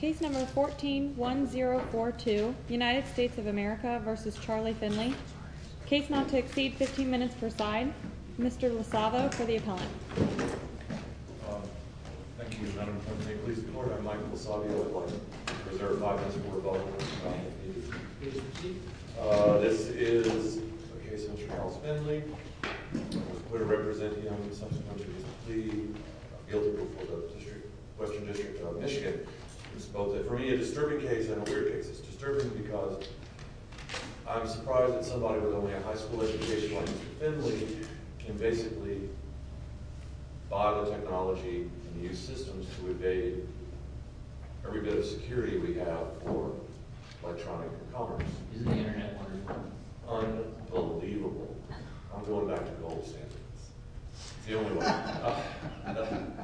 Case No. 14-1042, United States of America v. Charlie Finley Case not to exceed 15 minutes per side. Mr. LoSavio for the appellant. Thank you, Madam Attorney. Please record I'm Michael LoSavio. I'd like to reserve five minutes for rebuttal. Please proceed. This is a case of Charles Finley. I'm going to represent him subsequently. He's the guilty for the Western District of Michigan. For me, it's a disturbing case. I don't wear kicks. It's disturbing because I'm surprised that somebody with only a high school education like Finley can basically buy the technology and use systems to evade every bit of security we have for electronic commerce. Isn't the internet wonderful? Unbelievable. I'm going back to gold standards. It's the only one.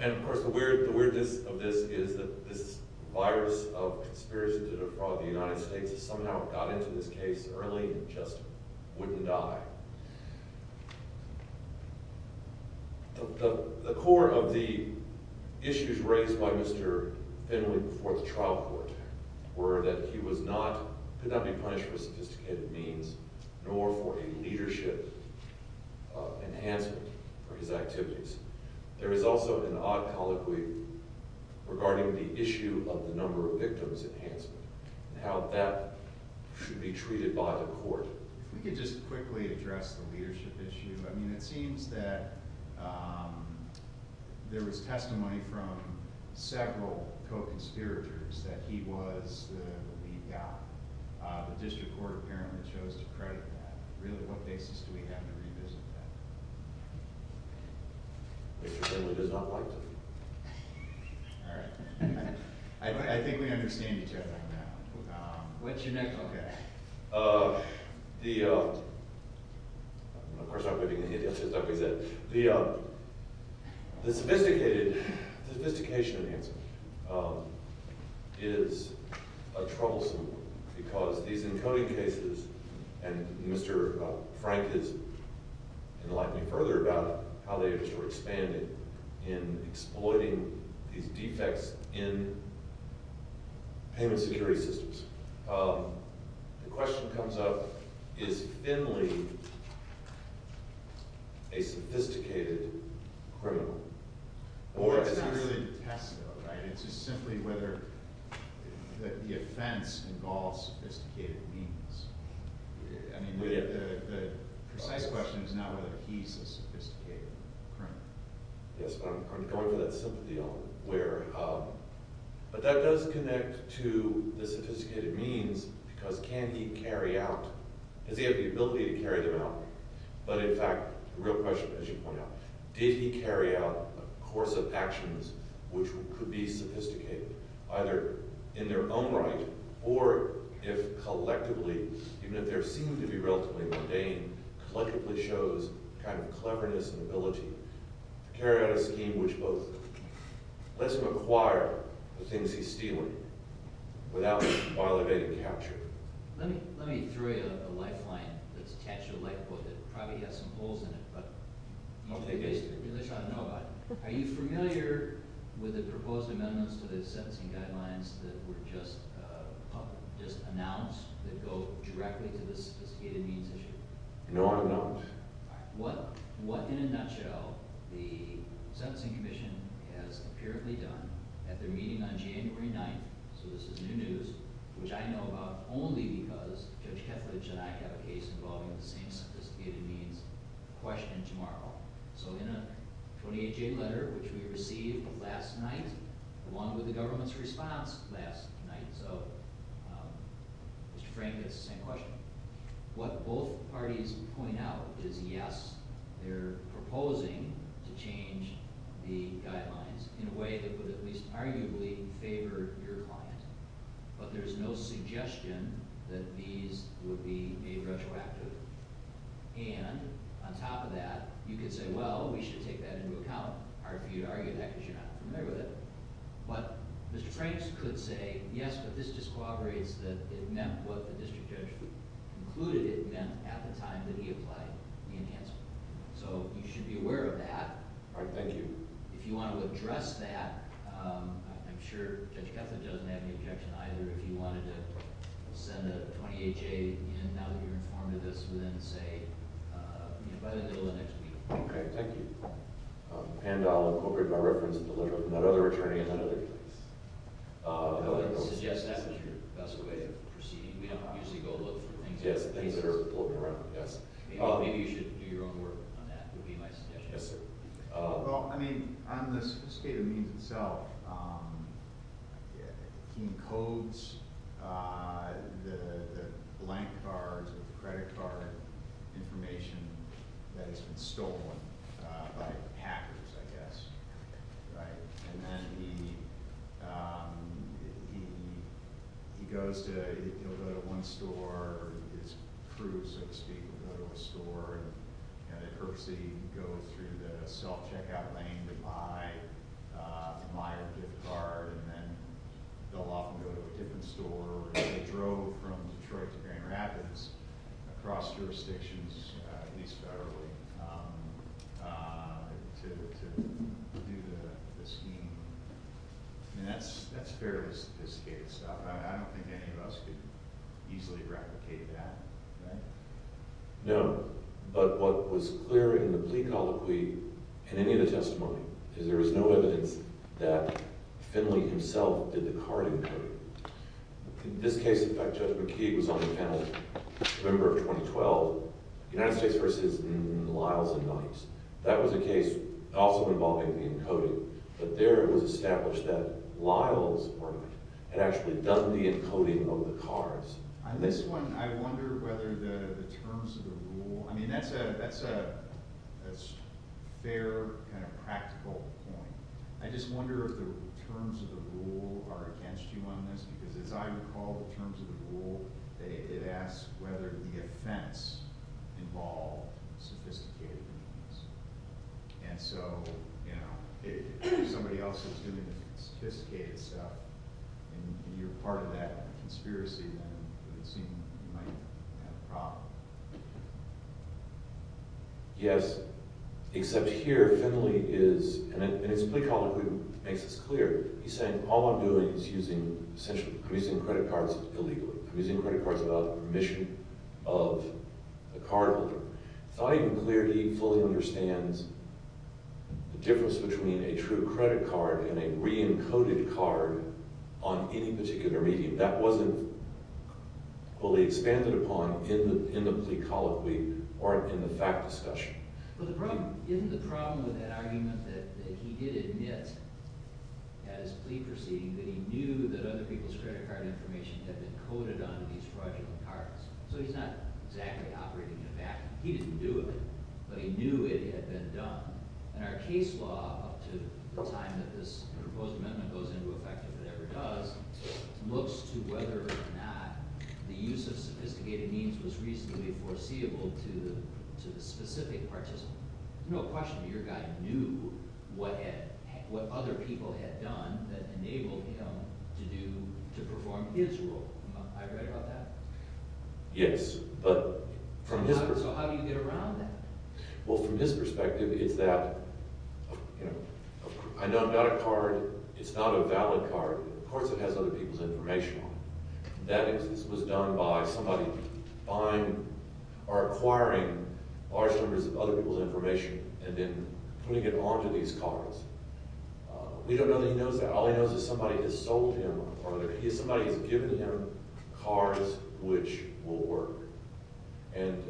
And of course, the weirdness of this is that this virus of conspiracy to defraud the United States somehow got into this case early and just wouldn't die. The core of the issues raised by Mr. Finley before the trial court were that he could not be punished with sophisticated means nor for a leadership enhancement for his activities. There is also an odd colloquy regarding the issue of the number of victims enhancement and how that should be treated by the court. If we could just quickly address the leadership issue. I mean, it seems that there was testimony from several co-conspirators that he was the lead guy. The district court apparently chose to credit that. Really, what basis do we have to revisit that? Mr. Finley does not like to. All right. I think we understand each other now. What's your next? Okay. The, of course, I'm not going to get into the other stuff he said. The sophisticated, sophistication enhancement is troublesome because these encoding cases and Mr. Frank is enlightening further about how they were expanded in exploiting these defects in payment security systems. The question comes up, is Finley a sophisticated criminal? Or is he really a test though, right? It's just simply whether the offense involves sophisticated means. I mean, the precise question is not whether he's a sophisticated criminal. Yes, but I'm going for that sympathy element where, but that does connect to the sophisticated means because can he carry out, does he have the ability to carry them out? But in fact, the real question, as you point out, did he carry out a course of actions which could be sophisticated either in their own right or if collectively, even if they seem to be relatively mundane, collectively shows kind of cleverness and ability to carry out a scheme which both lets him acquire the things he's stealing without violating capture. Let me throw you a lifeline that's attached to a light bulb that probably has some holes in it. Are you familiar with the proposed amendments to the sentencing guidelines that were just announced that go directly to the sophisticated means issue? No, I don't. What, in a nutshell, the Sentencing Commission has apparently done at their meeting on January 9th, so this is new news, which I know about only because Judge Kethledge and I have a case involving the same sophisticated means question tomorrow. So in a 28-J letter which we received last night, along with the government's response last night, so Mr. Frank gets the same question. What both parties point out is yes, they're proposing to change the guidelines in a way that would at least arguably favor your client, but there's no suggestion that these would be made retroactive. And on top of that, you could say, well, we should take that into account. Hard for you to argue that because you're not familiar with it. But Mr. Frank could say, yes, but this discoveries that it meant what the district judge concluded it meant at the time that he applied the enhancement. All right, thank you. If you want to address that, I'm sure Judge Kethledge doesn't have any objection either if you wanted to send a 28-J in now that you're informed of this and then say, you know, by the middle of next week. Okay, thank you. And I'll incorporate my reference in the letter from that other attorney in that other case. I would suggest that was your best way of proceeding. We don't usually go look for things that are floating around. Maybe you should do your own work on that would be my suggestion. Yes, sir. Well, I mean, on the state of means itself, he codes the blank cards with the credit card information that has been stolen by hackers, I guess, right? And then he goes to one store or his crew, so to speak, will go to a store and they purposely go through the self-checkout lane to buy a gift card. And then they'll often go to a different store. They drove from Detroit to Grand Rapids across jurisdictions, at least federally, to do the scheme. And that's fairly sophisticated stuff. I don't think any of us could easily replicate that, right? No. But what was clear in the plea colloquy, in any of the testimony, is there was no evidence that Finley himself did the card encoding. In this case, in fact, Judge McKee was on the panel in November of 2012, United States v. Lyles and Knight. That was a case also involving the encoding. But there it was established that Lyles had actually done the encoding of the cards. On this one, I wonder whether the terms of the rule – I mean, that's a fair kind of practical point. I just wonder if the terms of the rule are against you on this, because as I recall, the terms of the rule, it asks whether the offense involved sophisticated means. And so, you know, if somebody else is doing the sophisticated stuff and you're part of that conspiracy, then it would seem you might have a problem. Yes. Except here, Finley is – and it's the plea colloquy that makes this clear. He's saying, all I'm doing is essentially producing credit cards illegally. I'm using credit cards without the permission of the cardholder. Without even clarity, he fully understands the difference between a true credit card and a re-encoded card on any particular medium. That wasn't fully expanded upon in the plea colloquy or in the fact discussion. But isn't the problem with that argument that he did admit at his plea proceeding that he knew that other people's credit card information had been coded onto these fraudulent cards? So he's not exactly operating in a vacuum. He didn't do it, but he knew it had been done. And our case law, up to the time that this proposed amendment goes into effect, if it ever does, looks to whether or not the use of sophisticated means was reasonably foreseeable to the specific participant. There's no question that your guy knew what other people had done that enabled him to perform his role. Am I right about that? Yes. So how do you get around that? Well, from his perspective, it's that, you know, I know I'm not a card. It's not a valid card. Of course it has other people's information on it. That instance was done by somebody buying or acquiring large numbers of other people's information and then putting it onto these cards. We don't know that he knows that. All he knows is somebody has sold him or somebody has given him cards which will work. And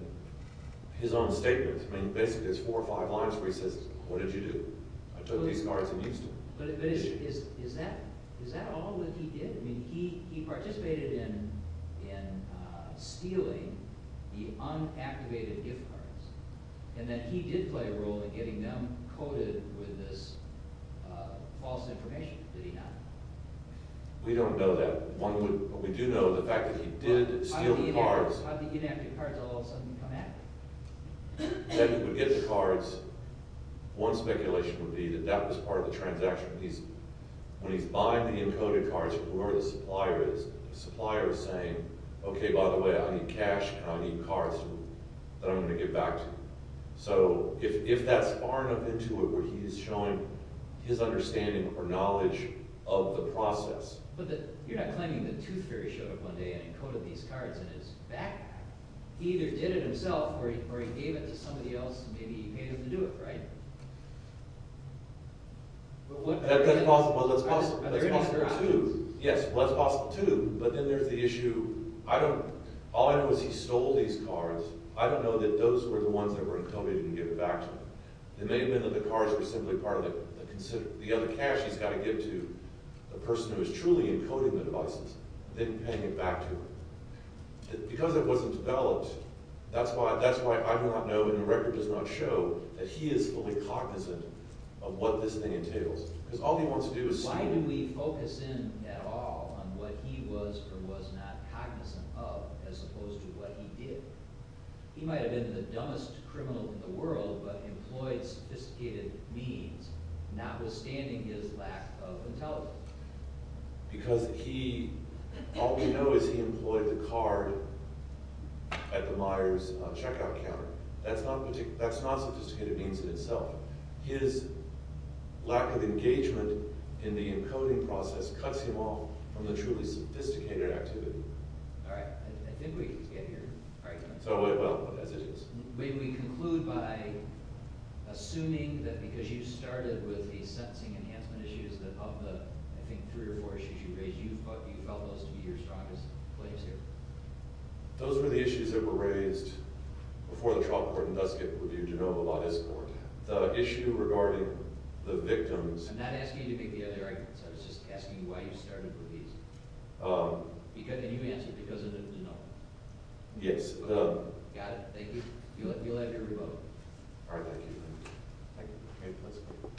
his own statements, I mean, basically there's four or five lines where he says, What did you do? I took these cards and used them. But is that all that he did? I mean, he participated in stealing the unactivated gift cards and that he did play a role in getting them coded with this false information, did he not? We don't know that. But we do know the fact that he did steal the cards. How did the inactive cards all of a sudden come back? Then he would get the cards. One speculation would be that that was part of the transaction. When he's buying the encoded cards from whoever the supplier is, the supplier is saying, Okay, by the way, I need cash and I need cards that I'm going to give back to you. So if that's far enough into it where he's showing his understanding or knowledge of the process. But you're not claiming that Tooth Fairy showed up one day and encoded these cards in his backpack. He either did it himself or he gave it to somebody else and maybe he paid them to do it, right? Well, that's possible too. Yes, well, that's possible too, but then there's the issue. All I know is he stole these cards. I don't know that those were the ones that were encoded and given back to him. It may have been that the cards were simply part of the other cash he's got to give to the person who is truly encoding the devices, then paying it back to him. Because it wasn't developed, that's why I do not know and the record does not show that he is fully cognizant of what this thing entails. Because all he wants to do is steal. Why do we focus in at all on what he was or was not cognizant of as opposed to what he did? He might have been the dumbest criminal in the world, but employed sophisticated means, notwithstanding his lack of intelligence. Because he, all we know is he employed the card at the Myers checkout counter. That's not sophisticated means in itself. His lack of engagement in the encoding process cuts him off from the truly sophisticated activity. All right, I think we get your argument. So, well, as it is. We conclude by assuming that because you started with the sentencing enhancement issues of the, I think, three or four issues you raised, you felt those to be your strongest claims here. Those were the issues that were raised before the trial court in Duskitt with your de novo law discourse. The issue regarding the victims... I'm not asking you to make the other arguments. I was just asking you why you started with these. And you answered because of the de novo. Yes. Got it. Thank you. You'll have your rebuttal. All right, thank you. Thank you. All right, let's go.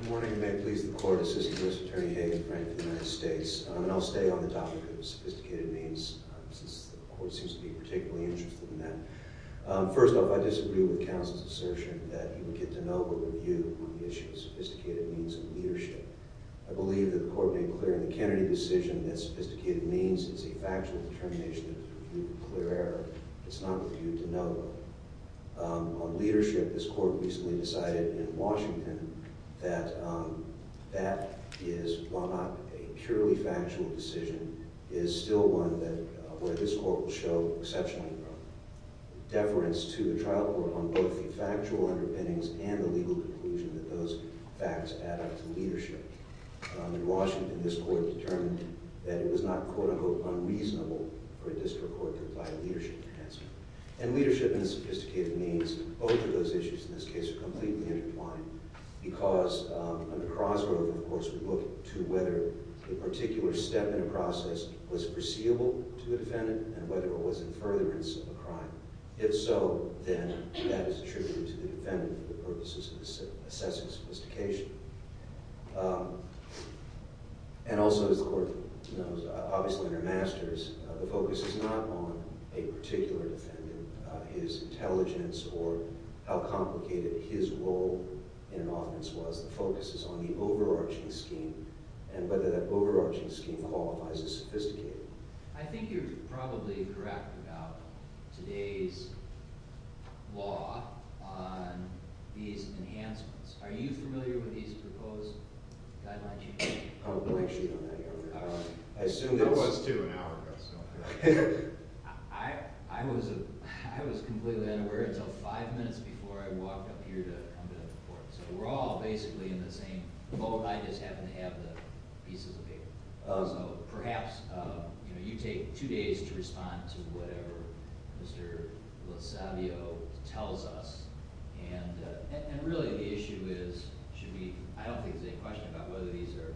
Good morning. May it please the court. Assistant Justice Attorney Hagan Frank of the United States. And I'll stay on the topic of sophisticated means since the court seems to be particularly interested in that. First off, I disagree with counsel's assertion that you would get de novo review on the issue of sophisticated means of leadership. I believe that the court made clear in the Kennedy decision that sophisticated means is a factual determination of clear error. It's not reviewed de novo. On leadership, this court recently decided in Washington that that is, while not a purely factual decision, is still one where this court will show exceptional deference to the trial court on both the factual underpinnings and the legal conclusion that those facts add up to leadership. In Washington, this court determined that it was not quote-unquote unreasonable for a district court to apply leadership enhancement. And leadership and sophisticated means, both of those issues in this case are completely intertwined because on the crossroad of the courts we look to whether a particular step in a process was foreseeable to a defendant and whether it was a furtherance of a crime. If so, then that is attributed to the defendant for the purposes of assessing sophistication. And also, as the court knows, obviously in her masters, the focus is not on a particular defendant, his intelligence or how complicated his role in an offense was. The focus is on the overarching scheme and whether that overarching scheme qualifies as sophisticated. I think you're probably correct about today's law on these enhancements. Are you familiar with these proposed guidelines? I was, too, an hour ago. I was completely unaware until five minutes before I walked up here to come to the court. So we're all basically in the same boat. I just happen to have the pieces of paper. So perhaps you take two days to respond to whatever Mr. Lozavio tells us. And really the issue is, I don't think there's any question about whether these are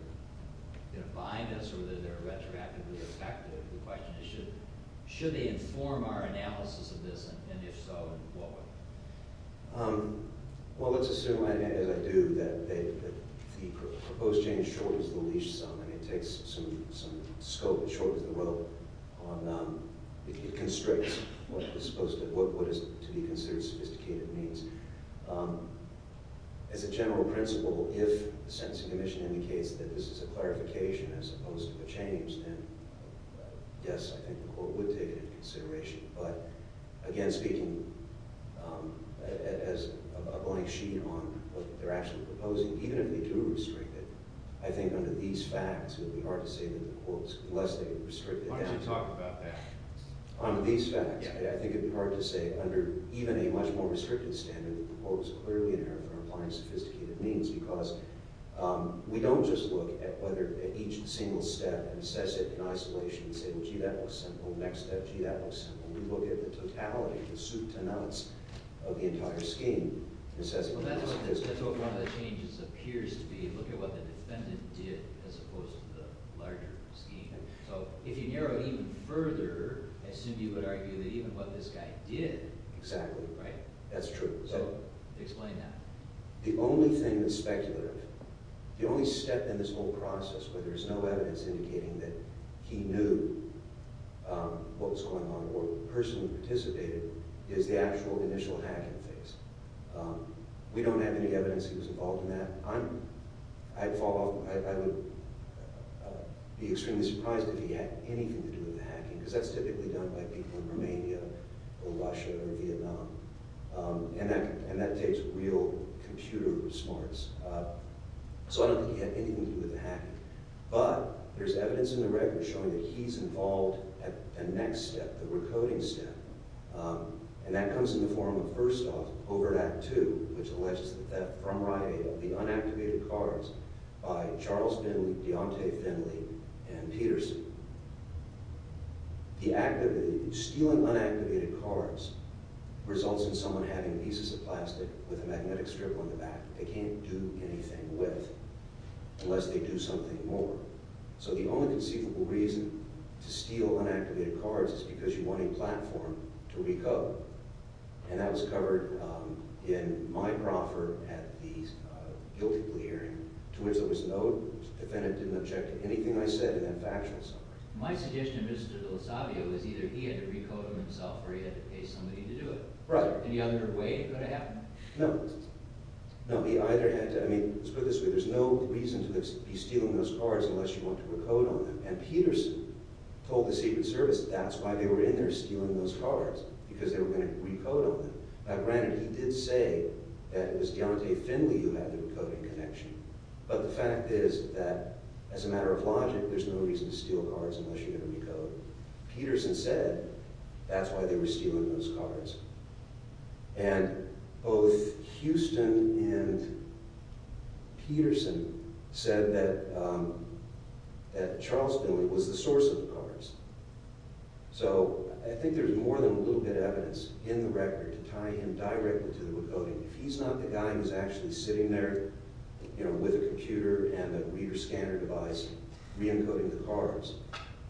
going to bind us or whether they're retroactively effective. The question is should they inform our analysis of this, and if so, in what way? Well, let's assume, as I do, that the proposed change shortens the leash some. It takes some scope and shortens the rope. It constricts what is to be considered sophisticated means. As a general principle, if the Sentencing Commission indicates that this is a clarification as opposed to a change, then yes, I think the court would take it into consideration. But again, speaking as a blank sheet on what they're actually proposing, even if they do restrict it, I think under these facts it would be hard to say that the court is less than restricted. Why don't you talk about that? Under these facts, I think it would be hard to say under even a much more restricted standard that the court was clearly in error for applying sophisticated means because we don't just look at each single step and assess it in isolation and say, well, gee, that looks simple. Next step, gee, that looks simple. We look at the totality, the soup to nuts of the entire scheme. Well, that's what one of the changes appears to be. Look at what the defendant did as opposed to the larger scheme. So if you narrow it even further, I assume you would argue that even what this guy did— Exactly. Right? That's true. Explain that. The only thing that's speculative, the only step in this whole process where there's no evidence indicating that he knew what was going on or the person who participated is the actual initial hacking phase. We don't have any evidence he was involved in that. I'd fall off—I would be extremely surprised if he had anything to do with the hacking because that's typically done by people in Romania or Russia or Vietnam, and that takes real computer smarts. So I don't think he had anything to do with the hacking. But there's evidence in the record showing that he's involved at the next step, the recoding step, and that comes in the form of first off, over at Act 2, which alleges the theft from RIA of the unactivated cards by Charles Finley, Deontay Finley, and Peterson. The act of stealing unactivated cards results in someone having pieces of plastic with a magnetic strip on the back they can't do anything with unless they do something more. So the only conceivable reason to steal unactivated cards is because you want a platform to recode. And that was covered in my proffer at the guilty plea hearing, to which there was no—the defendant didn't object to anything I said in that factional summary. My suggestion to Mr. Lozavio is either he had to recode it himself or he had to pay somebody to do it. Right. Is there any other way it could have happened? No. No, he either had to—I mean, let's put it this way. There's no reason to be stealing those cards unless you want to recode on them. And Peterson told the Secret Service that's why they were in there, stealing those cards, because they were going to recode on them. Now, granted, he did say that it was Deontay Finley who had the recoding connection. But the fact is that, as a matter of logic, there's no reason to steal cards unless you're going to recode. So Peterson said that's why they were stealing those cards. And both Houston and Peterson said that Charles Finley was the source of the cards. So I think there's more than a little bit of evidence in the record to tie him directly to the recoding. If he's not the guy who's actually sitting there with a computer and a reader-scanner device re-encoding the cards,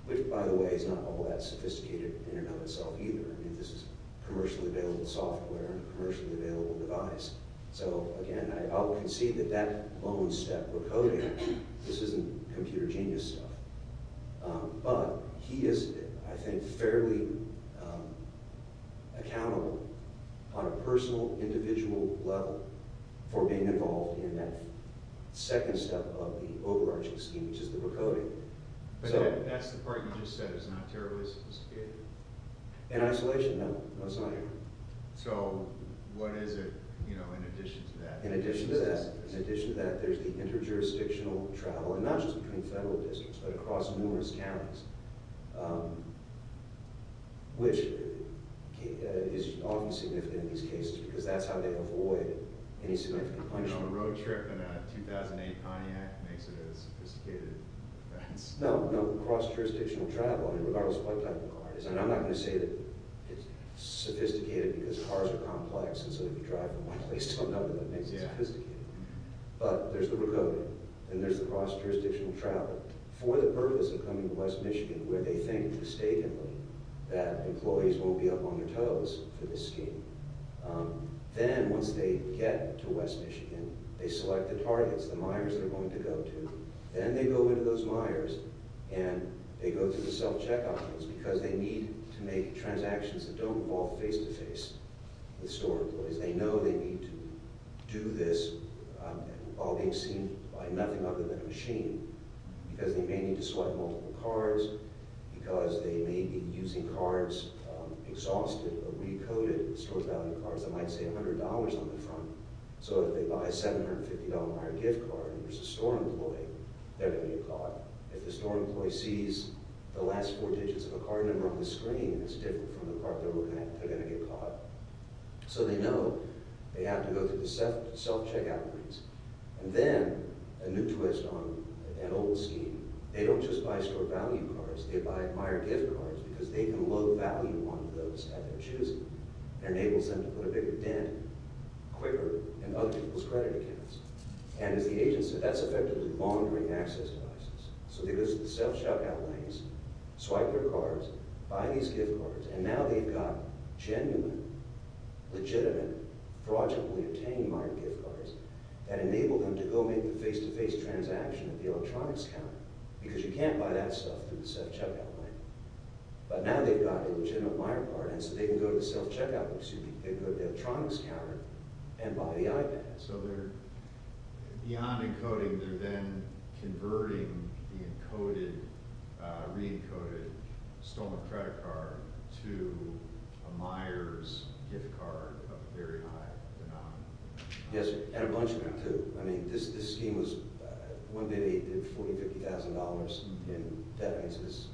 which, by the way, is not all that sophisticated in and of itself either. I mean, this is commercially available software and a commercially available device. So, again, I'll concede that that lone step for coding, this isn't computer genius stuff. But he is, I think, fairly accountable on a personal, individual level for being involved in that second step of the overarching scheme, which is the recoding. But that's the part you just said is not terribly sophisticated. In isolation, no. No, it's not here. So what is it, you know, in addition to that? In addition to that, in addition to that, there's the inter-jurisdictional travel, and not just between federal districts, but across numerous counties, which is often significant in these cases because that's how they avoid any significant punishment. You know, a road trip in a 2008 Pontiac makes it a sophisticated offense. No, no, cross-jurisdictional travel, regardless of what type of car it is. And I'm not going to say that it's sophisticated because cars are complex, and so if you drive from one place to another, that makes it sophisticated. But there's the recoding, and there's the cross-jurisdictional travel for the purpose of coming to West Michigan where they think mistakenly that employees won't be up on their toes for this scheme. Then, once they get to West Michigan, they select the targets, the mires they're going to go to. Then they go into those mires, and they go through the self-checkout phase because they need to make transactions that don't involve face-to-face with store employees. They know they need to do this while being seen by nothing other than a machine because they may need to swipe multiple cards, because they may be using cards, exhausted or recoded store value cards that might say $100 on the front. So if they buy a $750 mire gift card and there's a store employee, they're going to get caught. If the store employee sees the last four digits of a card number on the screen, it's different from the card number they're going to get caught. So they know they have to go through the self-checkout phase. And then a new twist on an old scheme. They don't just buy store value cards. They buy mire gift cards because they can load value onto those at their choosing. It enables them to put a bigger dent quicker in other people's credit accounts. And as the agent said, that's effectively laundering access devices. So they go through the self-checkout lanes, swipe their cards, buy these gift cards, and now they've got genuine, legitimate, fraudulently-obtained mire gift cards that enable them to go make the face-to-face transaction at the electronics counter because you can't buy that stuff through the self-checkout lane. But now they've got a legitimate mire card, and so they can go to the electronics counter and buy the iPad. So beyond encoding, they're then converting the encoded, re-encoded, stolen credit card to a mire's gift card of a very high phenomenon. Yes, and a bunch of them, too. I mean, this scheme was, one day they did $40,000, $50,000, and that means it's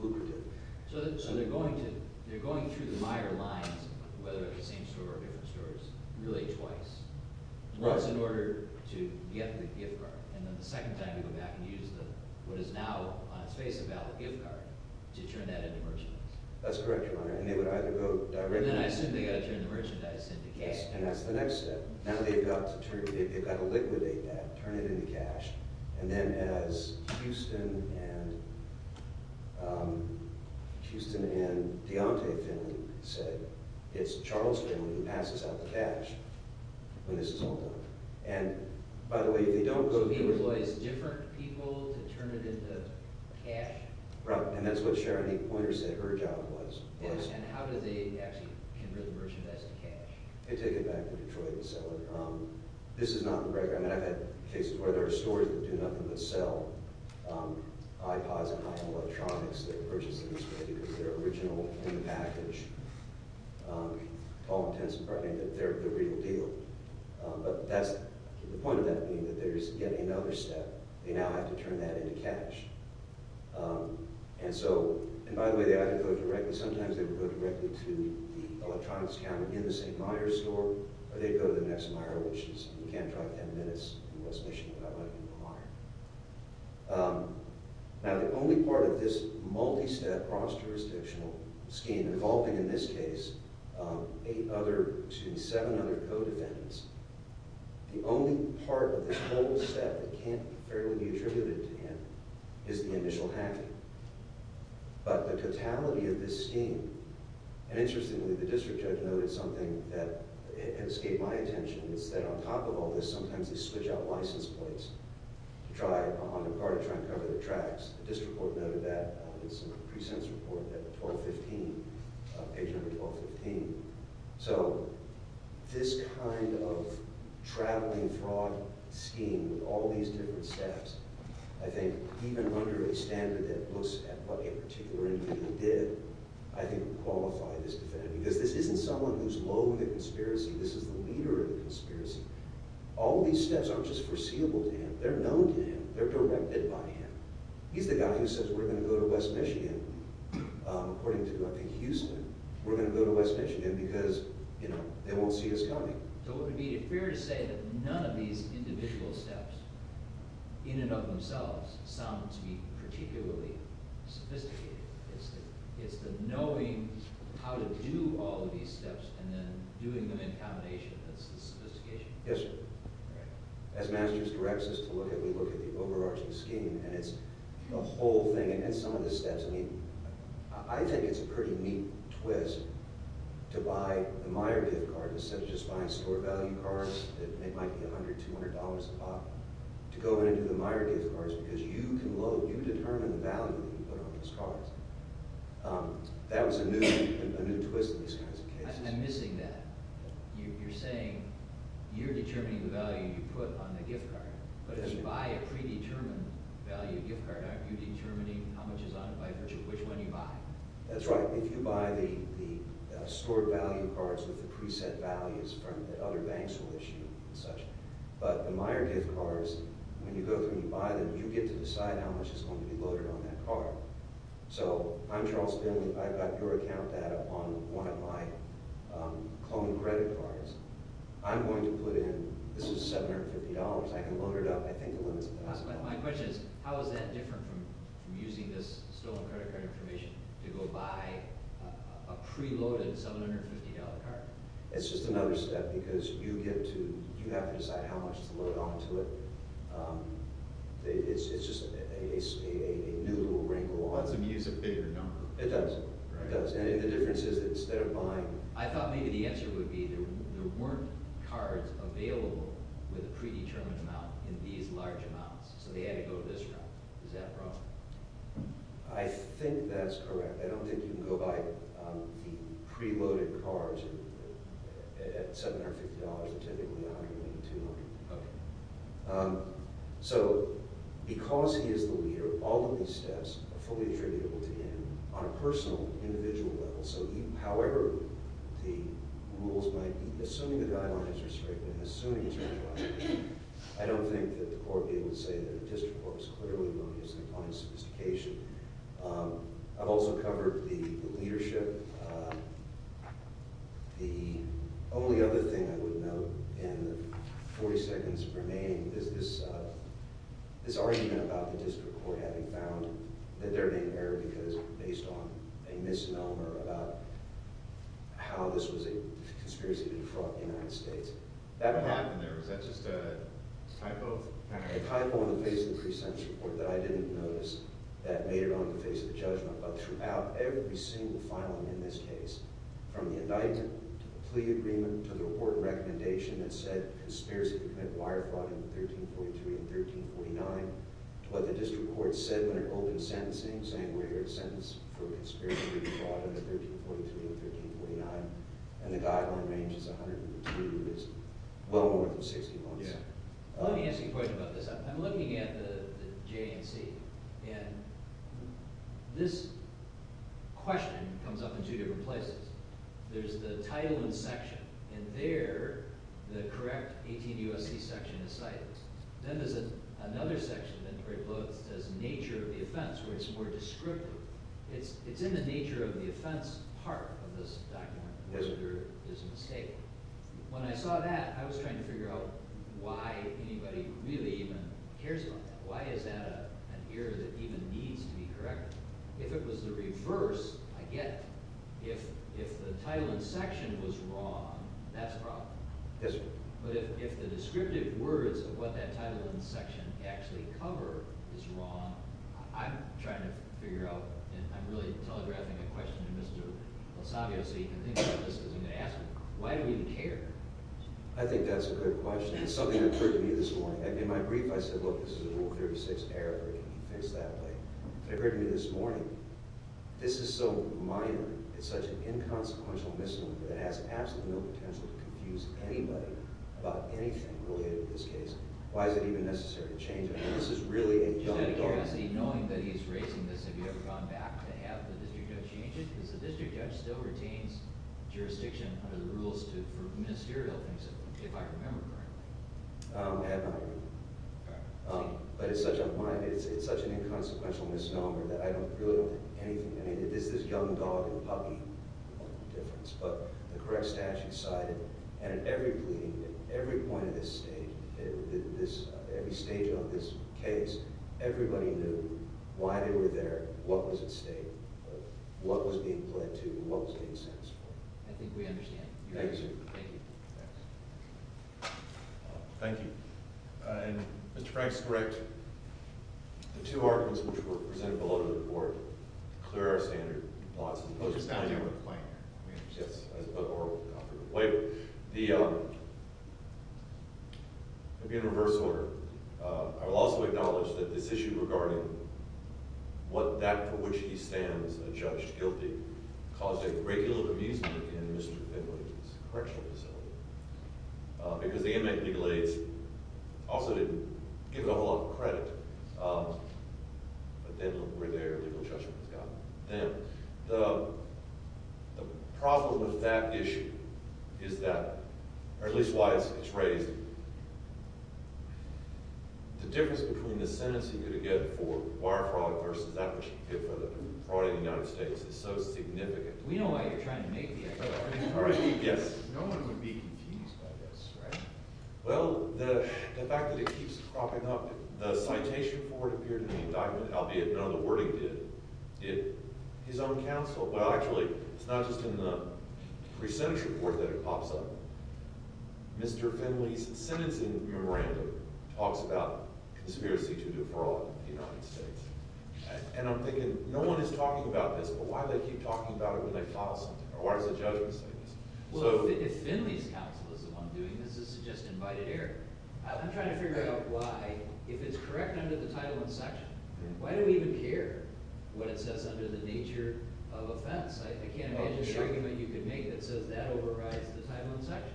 lucrative. So they're going through the mire lines, whether at the same store or different stores, really twice. Once in order to get the gift card, and then the second time you go back and use what is now, on its face, a valid gift card to turn that into merchandise. That's correct, your Honor, and they would either go directly— And then I assume they've got to turn the merchandise into cash. Yes, and that's the next step. Now they've got to liquidate that, turn it into cash. And then as Houston and Deontay Finley said, it's Charles Finley who passes out the cash. When this is all done. And, by the way, they don't go through— So he employs different people to turn it into cash? Right, and that's what Sharon A. Poynter said her job was. And how do they actually convert the merchandise to cash? They take it back to Detroit and sell it. This is not the record. I mean, I've had cases where there are stores that do nothing but sell iPods and iPhone electronics that are purchased in this way because they're original in the package. Call the Tenants Department, they're the real deal. But that's—the point of that being that there's yet another step. They now have to turn that into cash. And so, and by the way, they either go directly— Sometimes they would go directly to the electronics counter in the St. Myers store, or they'd go to the next Meyer, which is— You can't drive 10 minutes in West Michigan without going to the Meyer. Now, the only part of this multi-step, cross-jurisdictional scheme involving, in this case, eight other—excuse me, seven other co-defendants, the only part of this whole step that can't fairly be attributed to him is the initial hacking. But the totality of this scheme— And interestingly, the district judge noted something that escaped my attention. It's that on top of all this, sometimes they switch out license plates. To try, on their part, to try and cover their tracks. The district court noted that. It's in the precinct's report, page number 1215. So, this kind of traveling fraud scheme, with all these different steps, I think, even under a standard that looks at what a particular individual did, I think would qualify this defendant. Because this isn't someone who's loathing the conspiracy. This is the leader of the conspiracy. All these steps aren't just foreseeable to him. They're known to him. They're directed by him. He's the guy who says, we're going to go to West Michigan, according to, I think, Houston. We're going to go to West Michigan because, you know, they won't see us coming. So, would it be fair to say that none of these individual steps, in and of themselves, sound to me particularly sophisticated? It's the knowing how to do all of these steps, and then doing them in combination that's the sophistication. Yes, sir. As Master's directs us to look at, we look at the overarching scheme, and it's a whole thing. And some of the steps, I mean, I think it's a pretty neat twist to buy the Meyer gift card, instead of just buying store value cards that might be $100, $200 a pop, to go in and do the Meyer gift cards because you can load, you determine the value that you put on those cards. That was a new twist in these kinds of cases. I'm missing that. You're saying you're determining the value you put on the gift card, but if you buy a predetermined value gift card, aren't you determining how much is on it by virtue of which one you buy? That's right. If you buy the store value cards with the preset values that other banks will issue and such, but the Meyer gift cards, when you go through and you buy them, you get to decide how much is going to be loaded on that card. I'm Charles Finley. I've got your account data on one of my clone credit cards. I'm going to put in, this is $750. I can load it up. I think the limit is $1,000. My question is, how is that different from using this stolen credit card information to go buy a preloaded $750 card? It's just another step because you have to decide how much to load onto it. It's just a new little wrinkle. It lets them use a bigger number. It does. I think the difference is that instead of buying… I thought maybe the answer would be there weren't cards available with a predetermined amount in these large amounts, so they had to go to this route. Is that proper? I think that's correct. I don't think you can go buy the preloaded cards at $750 and typically not giving you $200. Because he is the leader, all of these steps are fully attributable to him on a personal, individual level. However, the rules might be… Assuming the guidelines are straight, and assuming he's right, I don't think that the court would be able to say that a district court is clearly not using a client's sophistication. I've also covered the leadership. The only other thing I would note in the 40 seconds remaining is this argument about the district court having found that they're being errored based on a misnomer about how this was a conspiracy to defraud the United States. What happened there? Was that just a typo? A typo on the face of the pre-sentence report that I didn't notice that made it on the face of the judgment. But throughout every single filing in this case, from the indictment, to the plea agreement, to the report recommendation that said conspiracy to commit wire fraud in 1343 and 1349, to what the district court said when it opened sentencing, saying we're here to sentence for conspiracy to defraud in 1343 and 1349, and the guideline range is 182 years, well over 60 months. Let me ask you a question about this. I'm looking at the J&C, and this question comes up in two different places. There's the title and section. In there, the correct 18 U.S.C. section is cited. Then there's another section of the inquiry book that says nature of the offense, where it's more descriptive. It's in the nature of the offense part of this document, where there is a mistake. When I saw that, I was trying to figure out why anybody really even cares about that. Why is that an error that even needs to be corrected? If it was the reverse, I get it. If the title and section was wrong, that's a problem. But if the descriptive words of what that title and section actually cover is wrong, I'm trying to figure out, and I'm really telegraphing a question to Mr. Losavio so he can think about this as he's going to ask me, why do we even care? I think that's a good question. It's something that occurred to me this morning. In my brief, I said, look, this is a Rule 36 error. We need to fix that. But it occurred to me this morning, this is so minor, it's such an inconsequential misnomer that it has absolutely no potential to confuse anybody about anything related to this case. Why is it even necessary to change it? I mean, this is really a dumb document. Just out of curiosity, knowing that he's raising this, have you ever gone back to have the district judge change it? Because the district judge still retains jurisdiction under the rules for ministerial things, if I remember correctly. I have not. But it's such an inconsequential misnomer that I really don't think anything, I mean, it's this young dog and puppy difference. But the correct statute cited, and at every point of this stage, every stage of this case, everybody knew why they were there, what was at stake, what was being pled to, and what was being satisfied. I think we understand. Thank you, sir. Thank you. Thank you. And Mr. Frank's correct. The two arguments which were presented below to the board to clear our standard, lots of them. Oh, just not in your complaint? Yes. But oral. Wait. The, in reverse order, I will also acknowledge that this issue regarding what that for which he stands a judge guilty caused a great deal of amusement in Mr. Finley's correctional facility. Because the inmate legal aides also didn't give it a whole lot of credit. But then look where their legal judgment has gotten them. The problem with that issue is that, or at least why it's raised, the difference between the sentence he could have given for wire fraud versus that which he could have given for the fraud in the United States is so significant. We know why you're trying to make the effort. Yes. No one would be confused by this, right? Well, the fact that it keeps cropping up, the citation for it appeared in the indictment, albeit none of the wording did. His own counsel, well, actually, it's not just in the pre-sentence report that it pops up. Mr. Finley's sentencing memorandum talks about conspiracy to defraud in the United States. And I'm thinking, no one is talking about this, but why do they keep talking about it when they file something, or why does the judgment say this? Well, if Finley's counsel is the one doing this, this is just invited error. I'm trying to figure out why, if it's correct under the Title I section, why do we even care what it says under the nature of offense? I can't imagine an argument you could make that says that overrides the Title I section.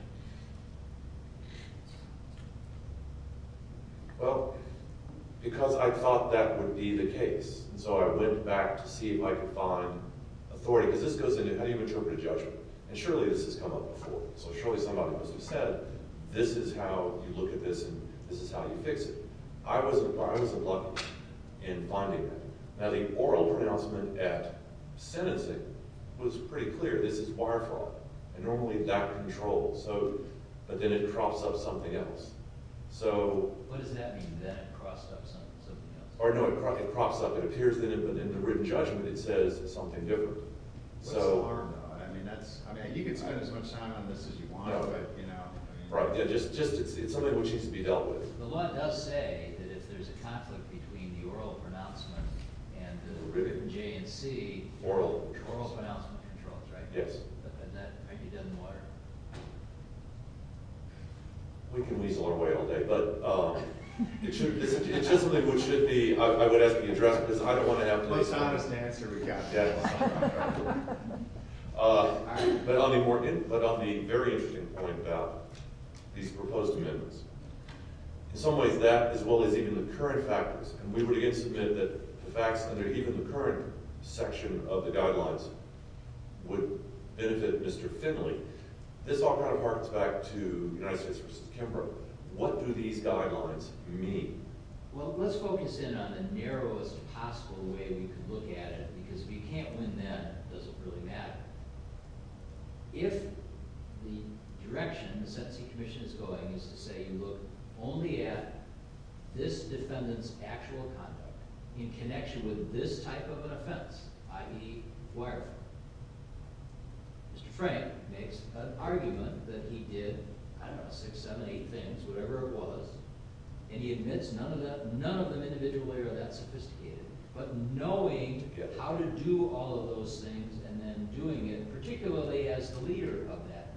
Well, because I thought that would be the case, and so I went back to see if I could find authority. Because this goes into, how do you interpret a judgment? And surely this has come up before, so surely somebody must have said, this is how you look at this, and this is how you fix it. I wasn't lucky in finding that. Now, the oral pronouncement at sentencing was pretty clear. This is wire fraud, and normally that controls. But then it crops up something else. What does that mean, that it crops up something else? No, it crops up. It appears in it, but in the written judgment it says something different. What's the harm, though? I mean, you can spend as much time on this as you want, but you know. It's something which needs to be dealt with. The law does say that if there's a conflict between the oral pronouncement and the written J and C, oral pronouncement controls, right? Yes. And that maybe doesn't work. We can weasel our way all day. But it's just something which should be, I would ask you to address, because I don't want to have to listen. The most honest answer we've got. But on the very interesting point about these proposed amendments, in some ways that, as well as even the current factors, and we would again submit that the facts under even the current section of the guidelines would benefit Mr. Finley, this all kind of harks back to United States v. Kimbrough. What do these guidelines mean? Well, let's focus in on the narrowest possible way we could look at it, because if you can't win that, it doesn't really matter. If the direction the sentencing commission is going is to say you look only at this defendant's actual conduct in connection with this type of an offense, i.e., wire fraud, Mr. Frank makes an argument that he did, I don't know, six, seven, eight things, whatever it was, and he admits none of them individually are that sophisticated. But knowing how to do all of those things and then doing it, particularly as the leader of that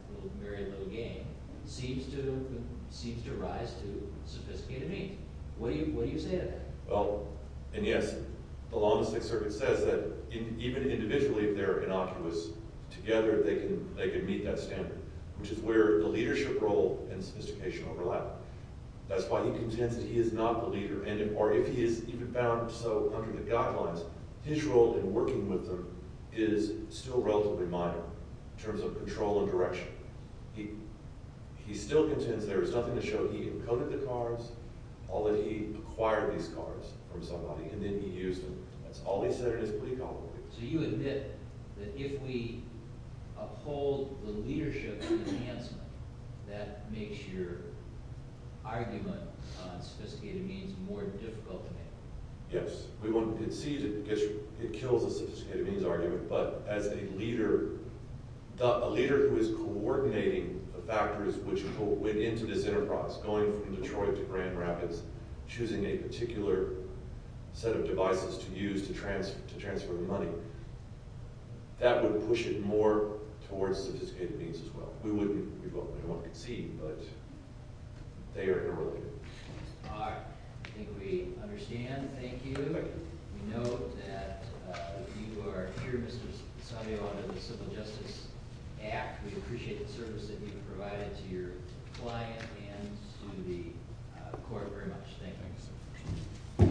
very little gang, seems to rise to sophisticated means. What do you say to that? Well, and yes, the law in the Sixth Circuit says that even individually, if they're innocuous together, they can meet that standard, which is where the leadership role and sophistication overlap. That's why he contends that he is not the leader, or if he is even found so under the guidelines, his role in working with them is still relatively minor in terms of control and direction. He still contends there is nothing to show he encoded the cards, all that he acquired these cards from somebody, and then he used them. That's all he said in his plea complaint. So you admit that if we uphold the leadership enhancement, that makes your argument on sophisticated means more difficult to make? Yes. It kills a sophisticated means argument, but as a leader who is coordinating the factors which went into this enterprise, going from Detroit to Grand Rapids, choosing a particular set of devices to use to transfer the money, that would push it more towards sophisticated means as well. We wouldn't want to concede, but they are in a role here. All right. I think we understand. Thank you. We know that you are here, Mr. Sotio, under the Civil Justice Act. We appreciate the service that you've provided to your client and to the court very much. Thank you.